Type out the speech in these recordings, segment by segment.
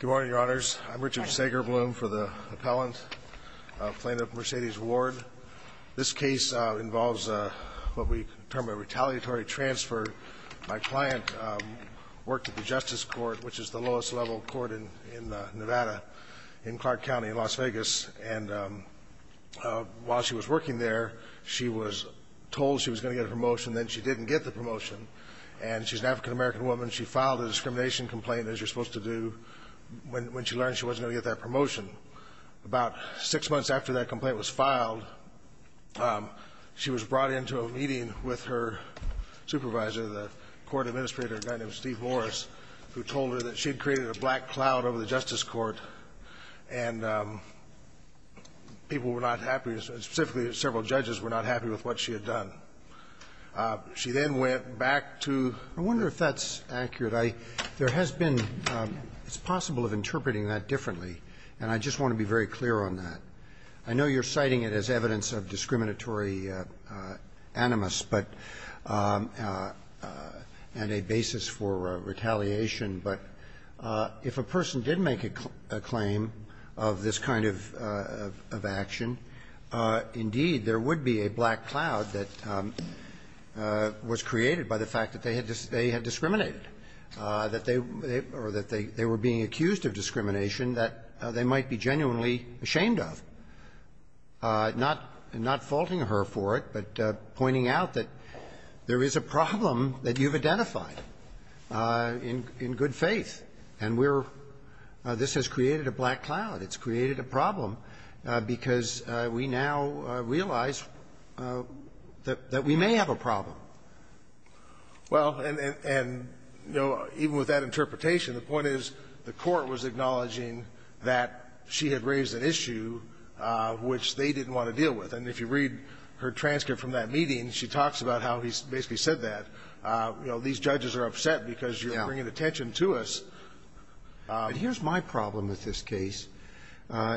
Good morning, Your Honor, I'm Richard Sagerbloom for the appellant plaintiff at Mercedes Ward. This case involves what we term a retaliatory transfer. My client worked at the Justice Court, which is the lowest level court in Nevada, in Clark County, in Las Vegas. And while she was working there, she was told she was going to get a promotion, then she didn't get the promotion. And she's an African-American woman. She filed a discrimination complaint, as you're supposed to do, when she learned she wasn't going to get that promotion. About six months after that complaint was filed, she was brought into a meeting with her supervisor, the court administrator, a guy named Steve Morris, who told her that she had created a black cloud over the Justice Court, and people were not happy, specifically several judges, were not happy with what she had done. She then went back to the ---- Roberts, I wonder if that's accurate. I ---- there has been ---- it's possible of interpreting that differently, and I just want to be very clear on that. I know you're citing it as evidence of discriminatory animus, but ---- and a basis for retaliation. But if a person did make a claim of this kind of action, indeed, there would be a black cloud that was created by the fact that they had discriminated, that they were being accused of discrimination, that they might be genuinely ashamed of, not ---- not faulting her for it, but pointing out that there is a problem that you've identified in good faith, and we're ---- this has created a black cloud. It's created a problem because we now realize that we may have a problem. Well, and, you know, even with that interpretation, the point is the Court was acknowledging that she had raised an issue which they didn't want to deal with. And if you read her transcript from that meeting, she talks about how he basically said that. You know, these judges are upset because you're bringing attention to us. Here's my problem with this case.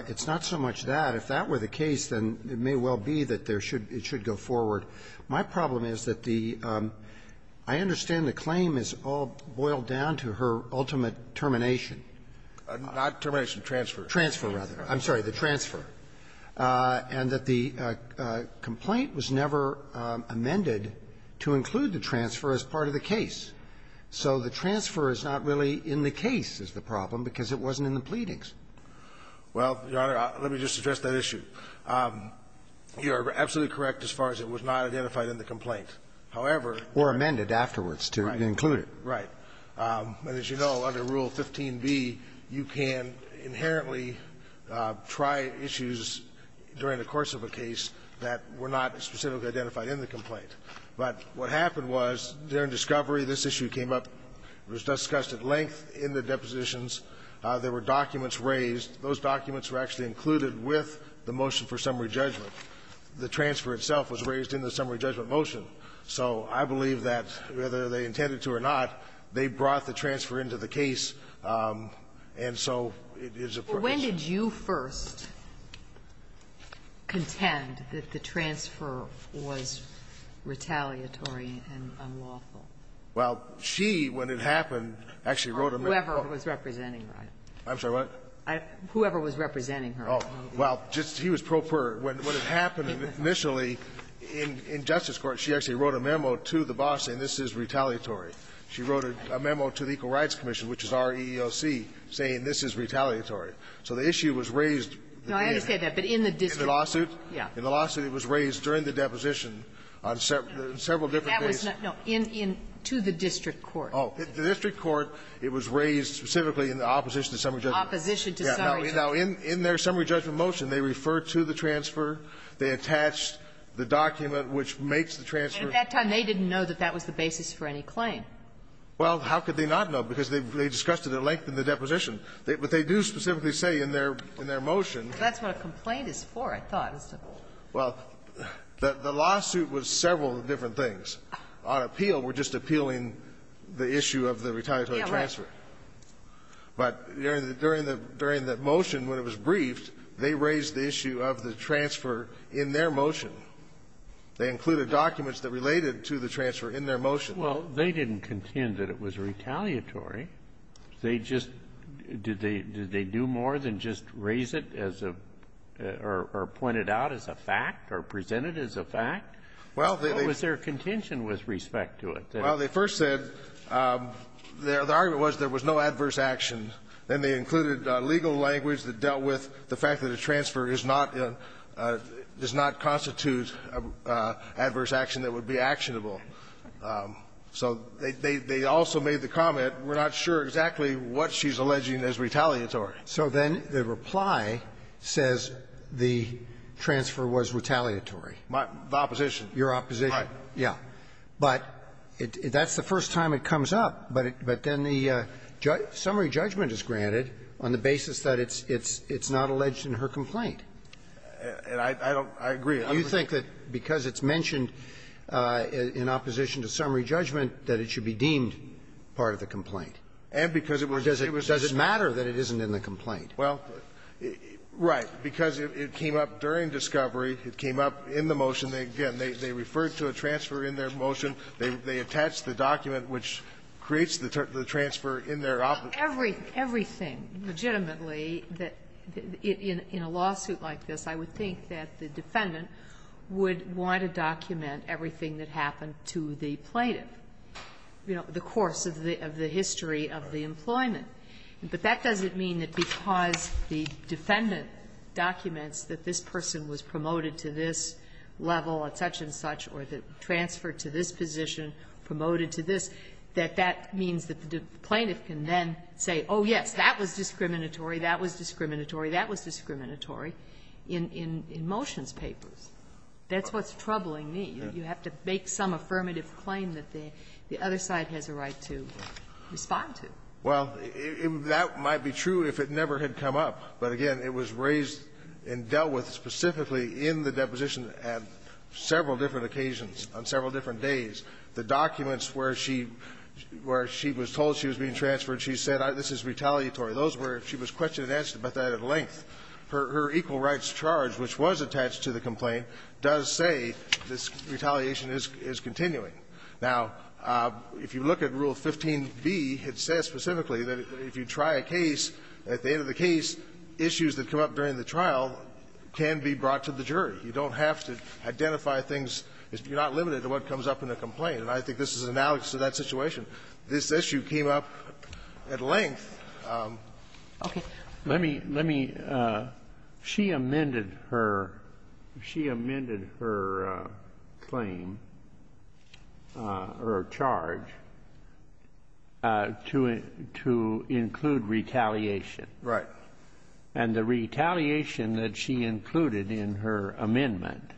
It's not so much that. If that were the case, then it may well be that there should be ---- it should go forward. My problem is that the ---- I understand the claim is all boiled down to her ultimate termination. Not termination, transfer. Transfer, rather. I'm sorry, the transfer. And that the complaint was never amended to include the transfer as part of the case. So the transfer is not really in the case, is the problem, because it wasn't in the pleadings. Well, Your Honor, let me just address that issue. You are absolutely correct as far as it was not identified in the complaint. However ---- Or amended afterwards to include it. Right. And as you know, under Rule 15b, you can inherently try issues during the course of a case that were not specifically identified in the complaint. But what happened was, during discovery, this issue came up, was discussed at length in the depositions. There were documents raised. Those documents were actually included with the motion for summary judgment. The transfer itself was raised in the summary judgment motion. So I believe that, whether they intended to or not, they brought the transfer into the case, and so it is a ---- When did you first contend that the transfer was retaliatory and unlawful? Well, she, when it happened, actually wrote a ---- Whoever was representing Ryan. I'm sorry, what? Whoever was representing her. Oh. Well, just he was pro per. When it happened initially in Justice Court, she actually wrote a memo to the boss saying this is retaliatory. She wrote a memo to the Equal Rights Commission, which is REEOC, saying this is retaliatory. So the issue was raised ---- No, I understand that. But in the district court ---- In the lawsuit? Yes. In the lawsuit, it was raised during the deposition on several different cases. No, in to the district court. Oh. The district court, it was raised specifically in the opposition to summary judgment. Yeah. Now, in their summary judgment motion, they refer to the transfer, they attach the document which makes the transfer. At that time, they didn't know that that was the basis for any claim. Well, how could they not know? Because they discussed it at length in the deposition. But they do specifically say in their motion ---- That's what a complaint is for, I thought. Well, the lawsuit was several different things. On appeal, we're just appealing the issue of the retaliatory transfer. Yeah, right. But during the motion, when it was briefed, they raised the issue of the transfer in their motion. They included documents that related to the transfer in their motion. Well, they didn't contend that it was retaliatory. They just ---- did they do more than just raise it as a ---- or point it out as a fact or present it as a fact? Well, they ---- What was their contention with respect to it? Well, they first said their ---- the argument was there was no adverse action. Then they included legal language that dealt with the fact that a transfer is not a ---- does not constitute adverse action that would be actionable. So they also made the comment, we're not sure exactly what she's alleging as retaliatory. So then the reply says the transfer was retaliatory. My ---- the opposition. Your opposition. Right. Yeah. But that's the first time it comes up. But then the summary judgment is granted on the basis that it's not alleged in her complaint. I don't ---- I agree. You think that because it's mentioned in opposition to summary judgment that it should be deemed part of the complaint? And because it was ---- Or does it matter that it isn't in the complaint? Well, right. Because it came up during discovery. It came up in the motion. And again, they referred to a transfer in their motion. They attached the document which creates the transfer in their opposition. Everything legitimately that in a lawsuit like this, I would think that the defendant would want to document everything that happened to the plaintiff, you know, the course of the history of the employment. But that doesn't mean that because the defendant documents that this person was promoted to this level at such-and-such or the transfer to this position, promoted to this, that that means that the plaintiff can then say, oh, yes, that was discriminatory, that was discriminatory, that was discriminatory, in motion's papers. That's what's troubling me. You have to make some affirmative claim that the other side has a right to respond to. Well, that might be true if it never had come up. But again, it was raised and dealt with specifically in the deposition at several different occasions on several different days. The documents where she was told she was being transferred, she said, this is retaliatory. Those were her question and answer about that at length. Her equal rights charge, which was attached to the complaint, does say this retaliation is continuing. Now, if you look at Rule 15b, it says specifically that if you try a case, at the end of the case, issues that come up during the trial can be brought to the jury. You don't have to identify things. You're not limited to what comes up in the complaint. And I think this is an analogy to that situation. This issue came up at length. Okay. Let me – let me – she amended her – she amended her claim or charge to include retaliation. Right. And the retaliation that she included in her amendment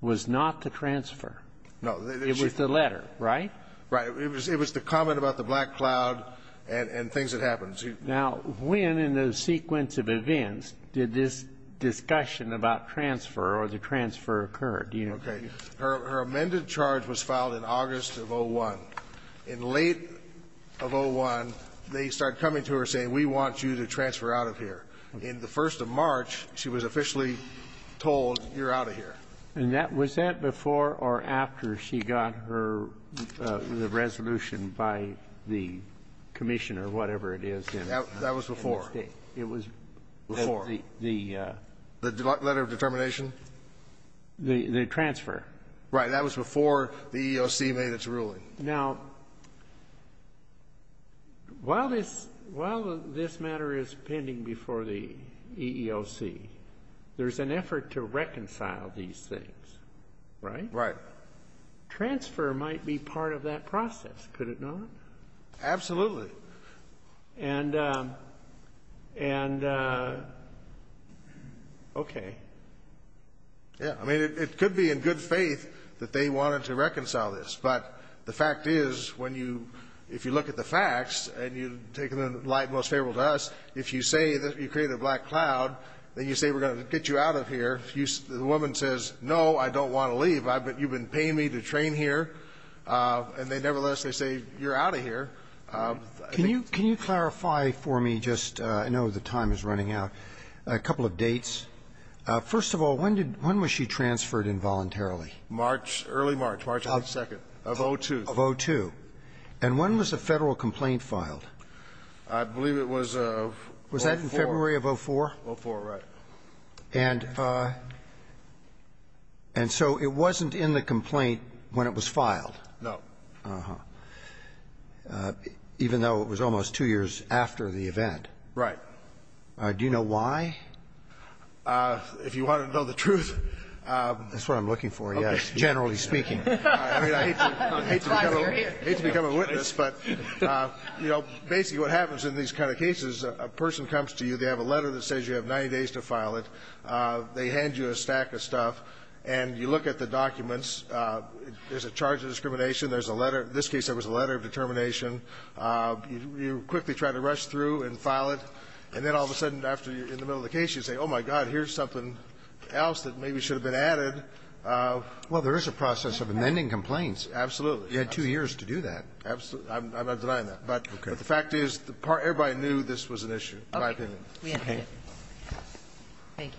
was not the transfer. No. It was the letter, right? Right. It was the comment about the black cloud and things that happened. Now, when in the sequence of events did this discussion about transfer or the transfer occur? Do you know? Okay. Her amended charge was filed in August of 2001. In late of 2001, they started coming to her saying, we want you to transfer out of here. In the first of March, she was officially told, you're out of here. And that – was that before or after she got her – the resolution by the commission or whatever it is in the State? That was before. It was before. The – The letter of determination? The transfer. Right. That was before the EEOC made its ruling. Now, while this – while this matter is pending before the EEOC, there's an effort to reconcile these things, right? Right. Transfer might be part of that process, could it not? Absolutely. And – and – okay. Yeah. I mean, it could be in good faith that they wanted to reconcile this. But the fact is, when you – if you look at the facts, and you take the light most favorable to us, if you say that you created a black cloud, then you say we're going to get you out of here. If you – the woman says, no, I don't want to leave. I – but you've been paying me to train here. And they – nevertheless, they say, you're out of here. Can you – can you clarify for me just – I know the time is running out – a couple of dates. First of all, when did – when was she transferred involuntarily? March – early March. March of the second. Of 02. Of 02. And when was the federal complaint filed? I believe it was – Was that in February of 04? 04, right. And – and so it wasn't in the complaint when it was filed? No. Uh-huh. Even though it was almost two years after the event? Right. Do you know why? If you want to know the truth – That's what I'm looking for, yes, generally speaking. I mean, I hate to become a witness, but, you know, basically what happens in these kind of cases, a person comes to you, they have a letter that says you have 90 days to file it, they hand you a stack of stuff, and you look at the documents. There's a charge of discrimination. There's a letter – in this case, there was a letter of determination. You quickly try to rush through and file it. And then all of a sudden, after you're in the middle of the case, you say, oh, my God, here's something else that maybe should have been added. Well, there is a process of amending complaints. Absolutely. You had two years to do that. Absolutely. I'm not denying that. Okay. But the fact is, everybody knew this was an issue, in my opinion. Okay. We understand. Thank you.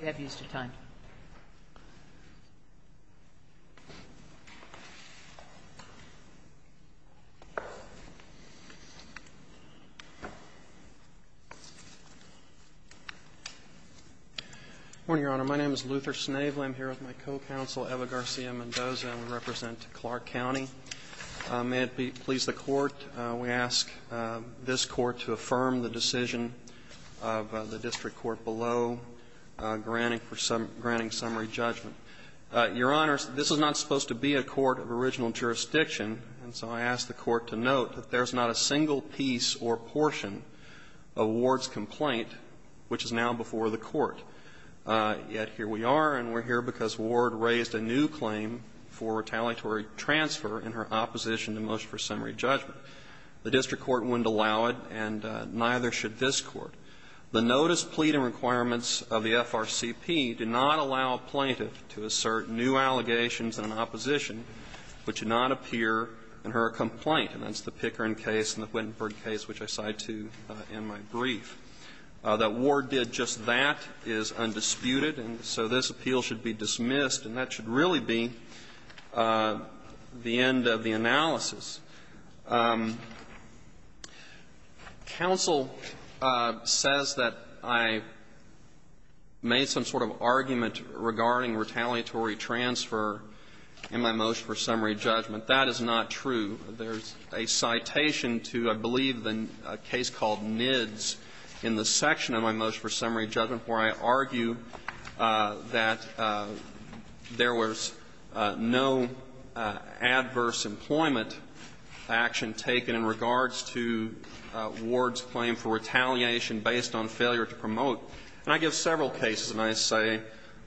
We have used your time. Good morning, Your Honor. My name is Luther Snavely. I'm here with my co-counsel, Eva Garcia Mendoza, and we represent Clark County. May it please the Court, we ask this Court to affirm the decision of the district court below, granting summary judgment. Your Honor, this is not supposed to be a court of original jurisdiction, and so I ask the Court to note that there's not a single piece or portion of Ward's complaint which is now before the Court. Yet here we are, and we're here because Ward raised a new claim for retaliatory transfer in her opposition to motion for summary judgment. The district court wouldn't allow it, and neither should this Court. The notice, plea, and requirements of the FRCP do not allow a plaintiff to assert new allegations in an opposition which do not appear in her complaint. And that's the Pickering case and the Wittenberg case, which I cite to in my brief. That Ward did just that is undisputed, and so this appeal should be dismissed, and that should really be the end of the analysis. Counsel says that I made some sort of argument regarding retaliatory transfer in my motion for summary judgment. That is not true. There's a citation to, I believe, a case called NIDS in the section of my motion for summary judgment where I argue that there was no adverse employment in the case of NIDS, and there was no adverse employment action taken in regards to Ward's claim for retaliation based on failure to promote. And I give several cases, and I say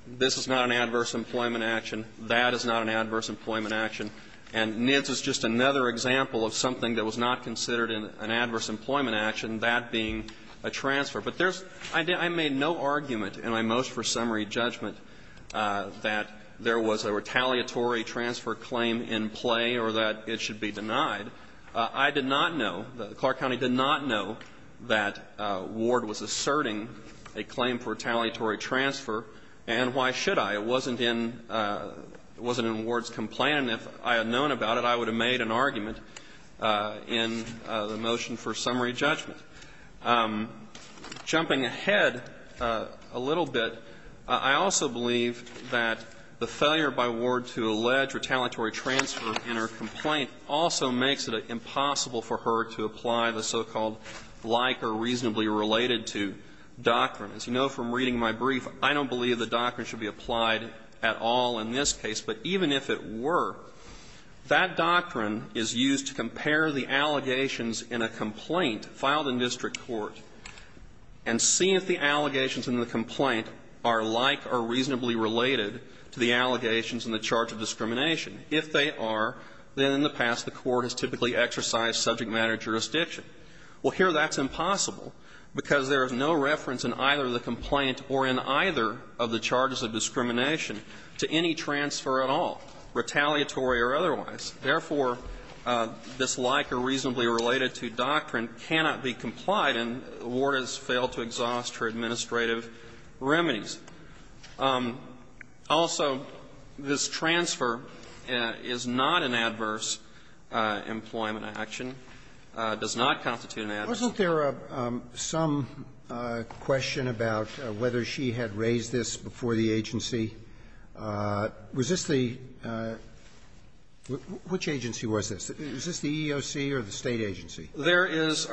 this is not an adverse employment action, that is not an adverse employment action, and NIDS is just another example of something that was not considered an adverse employment action, that being a transfer. But there's – I made no argument in my motion for summary judgment that there was a retaliatory transfer claim in play or that it should be denied. I did not know, Clark County did not know that Ward was asserting a claim for retaliatory transfer, and why should I? It wasn't in Ward's complaint, and if I had known about it, I would have made an argument in the motion for summary judgment. Jumping ahead a little bit, I also believe that the failure by Ward to allege retaliatory transfer in her complaint also makes it impossible for her to apply the so-called like or reasonably related to doctrine. As you know from reading my brief, I don't believe the doctrine should be applied at all in this case. But even if it were, that doctrine is used to compare the allegations in a complaint filed in district court and see if the allegations in the complaint are like or reasonably related to the allegations in the charge of discrimination. If they are, then in the past the court has typically exercised subject matter jurisdiction. Well, here that's impossible, because there is no reference in either the complaint or in either of the charges of discrimination to any transfer at all, retaliatory or otherwise. Therefore, this like or reasonably related to doctrine cannot be complied, and Ward has failed to exhaust her administrative remedies. Also, this transfer is not an adverse employment action, does not constitute an adverse employment action. Sotomayor, wasn't there some question about whether she had raised this before the agency? Was this the – which agency was this? Was this the EEOC or the State agency? There is.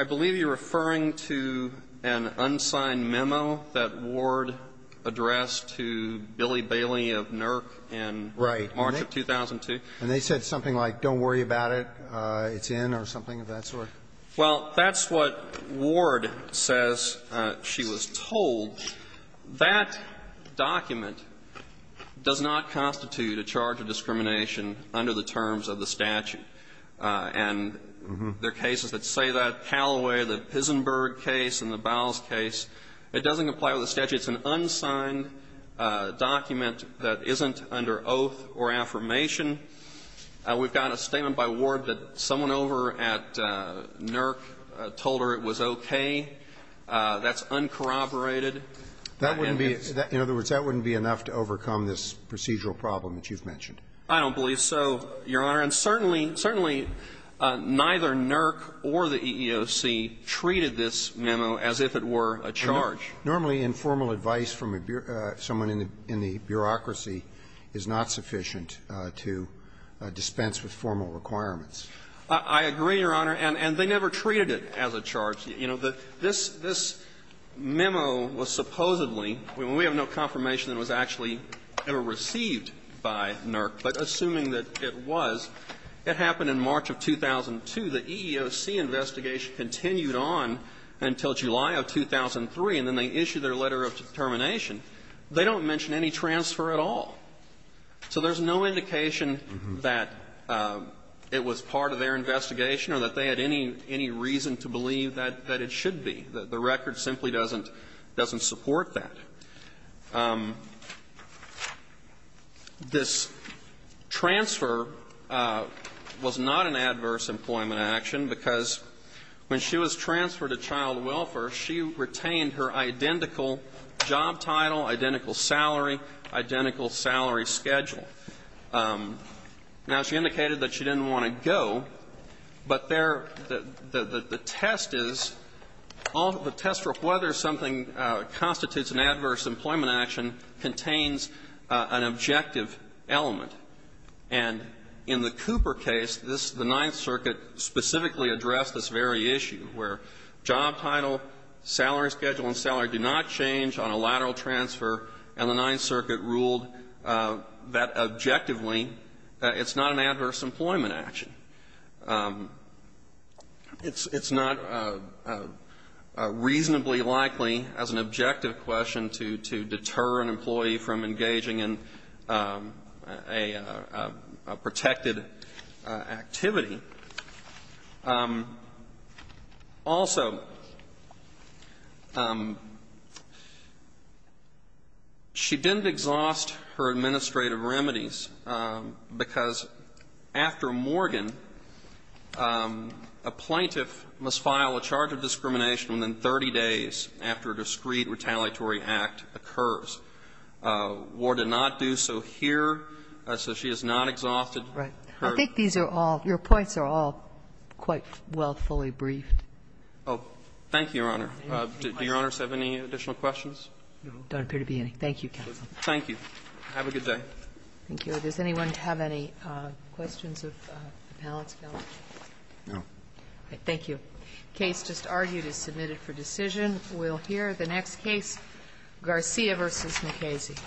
I believe you're referring to an unsigned memo that Ward addressed to Billy Bailey of NERC in March of 2002. Right. And they said something like, don't worry about it, it's in, or something of that sort. Well, that's what Ward says she was told. That document does not constitute a charge of discrimination under the terms of the statute. And there are cases that say that, Callaway, the Pisenberg case and the Bowles case. It doesn't comply with the statute. It's an unsigned document that isn't under oath or affirmation. We've got a statement by Ward that someone over at NERC told her it was okay. That's uncorroborated. That wouldn't be – in other words, that wouldn't be enough to overcome this procedural problem that you've mentioned. I don't believe so, Your Honor. And certainly, certainly neither NERC or the EEOC treated this memo as if it were a charge. Normally, informal advice from someone in the bureaucracy is not sufficient to dispense with formal requirements. I agree, Your Honor. And they never treated it as a charge. You know, this memo was supposedly, we have no confirmation that it was actually ever received by NERC, but assuming that it was, it happened in March of 2002. The EEOC investigation continued on until July of 2003, and then they issued their letter of determination. They don't mention any transfer at all. So there's no indication that it was part of their investigation or that they had any reason to believe that it should be. The record simply doesn't support that. This transfer was not an adverse employment action because when she was transferred to Child Welfare, she retained her identical job title, identical salary, identical salary schedule. Now, she indicated that she didn't want to go, but there – the test is – the test is that the adverse employment action contains an objective element. And in the Cooper case, this – the Ninth Circuit specifically addressed this very issue, where job title, salary schedule, and salary do not change on a lateral transfer, and the Ninth Circuit ruled that objectively it's not an adverse employment action. It's not to deter an employee from engaging in a – a protected activity. Also, she didn't exhaust her administrative remedies because after Morgan, a plaintiff must file a charge of discrimination within 30 days after a discreet retaliatory act occurs. War did not do so here, so she has not exhausted her – Right. I think these are all – your points are all quite well fully briefed. Oh, thank you, Your Honor. Do Your Honors have any additional questions? No. There don't appear to be any. Thank you, counsel. Thank you. Have a good day. Thank you. Does anyone have any questions of the panel? No. Thank you. Case just argued is submitted for decision. We'll hear the next case, Garcia v. McKazy.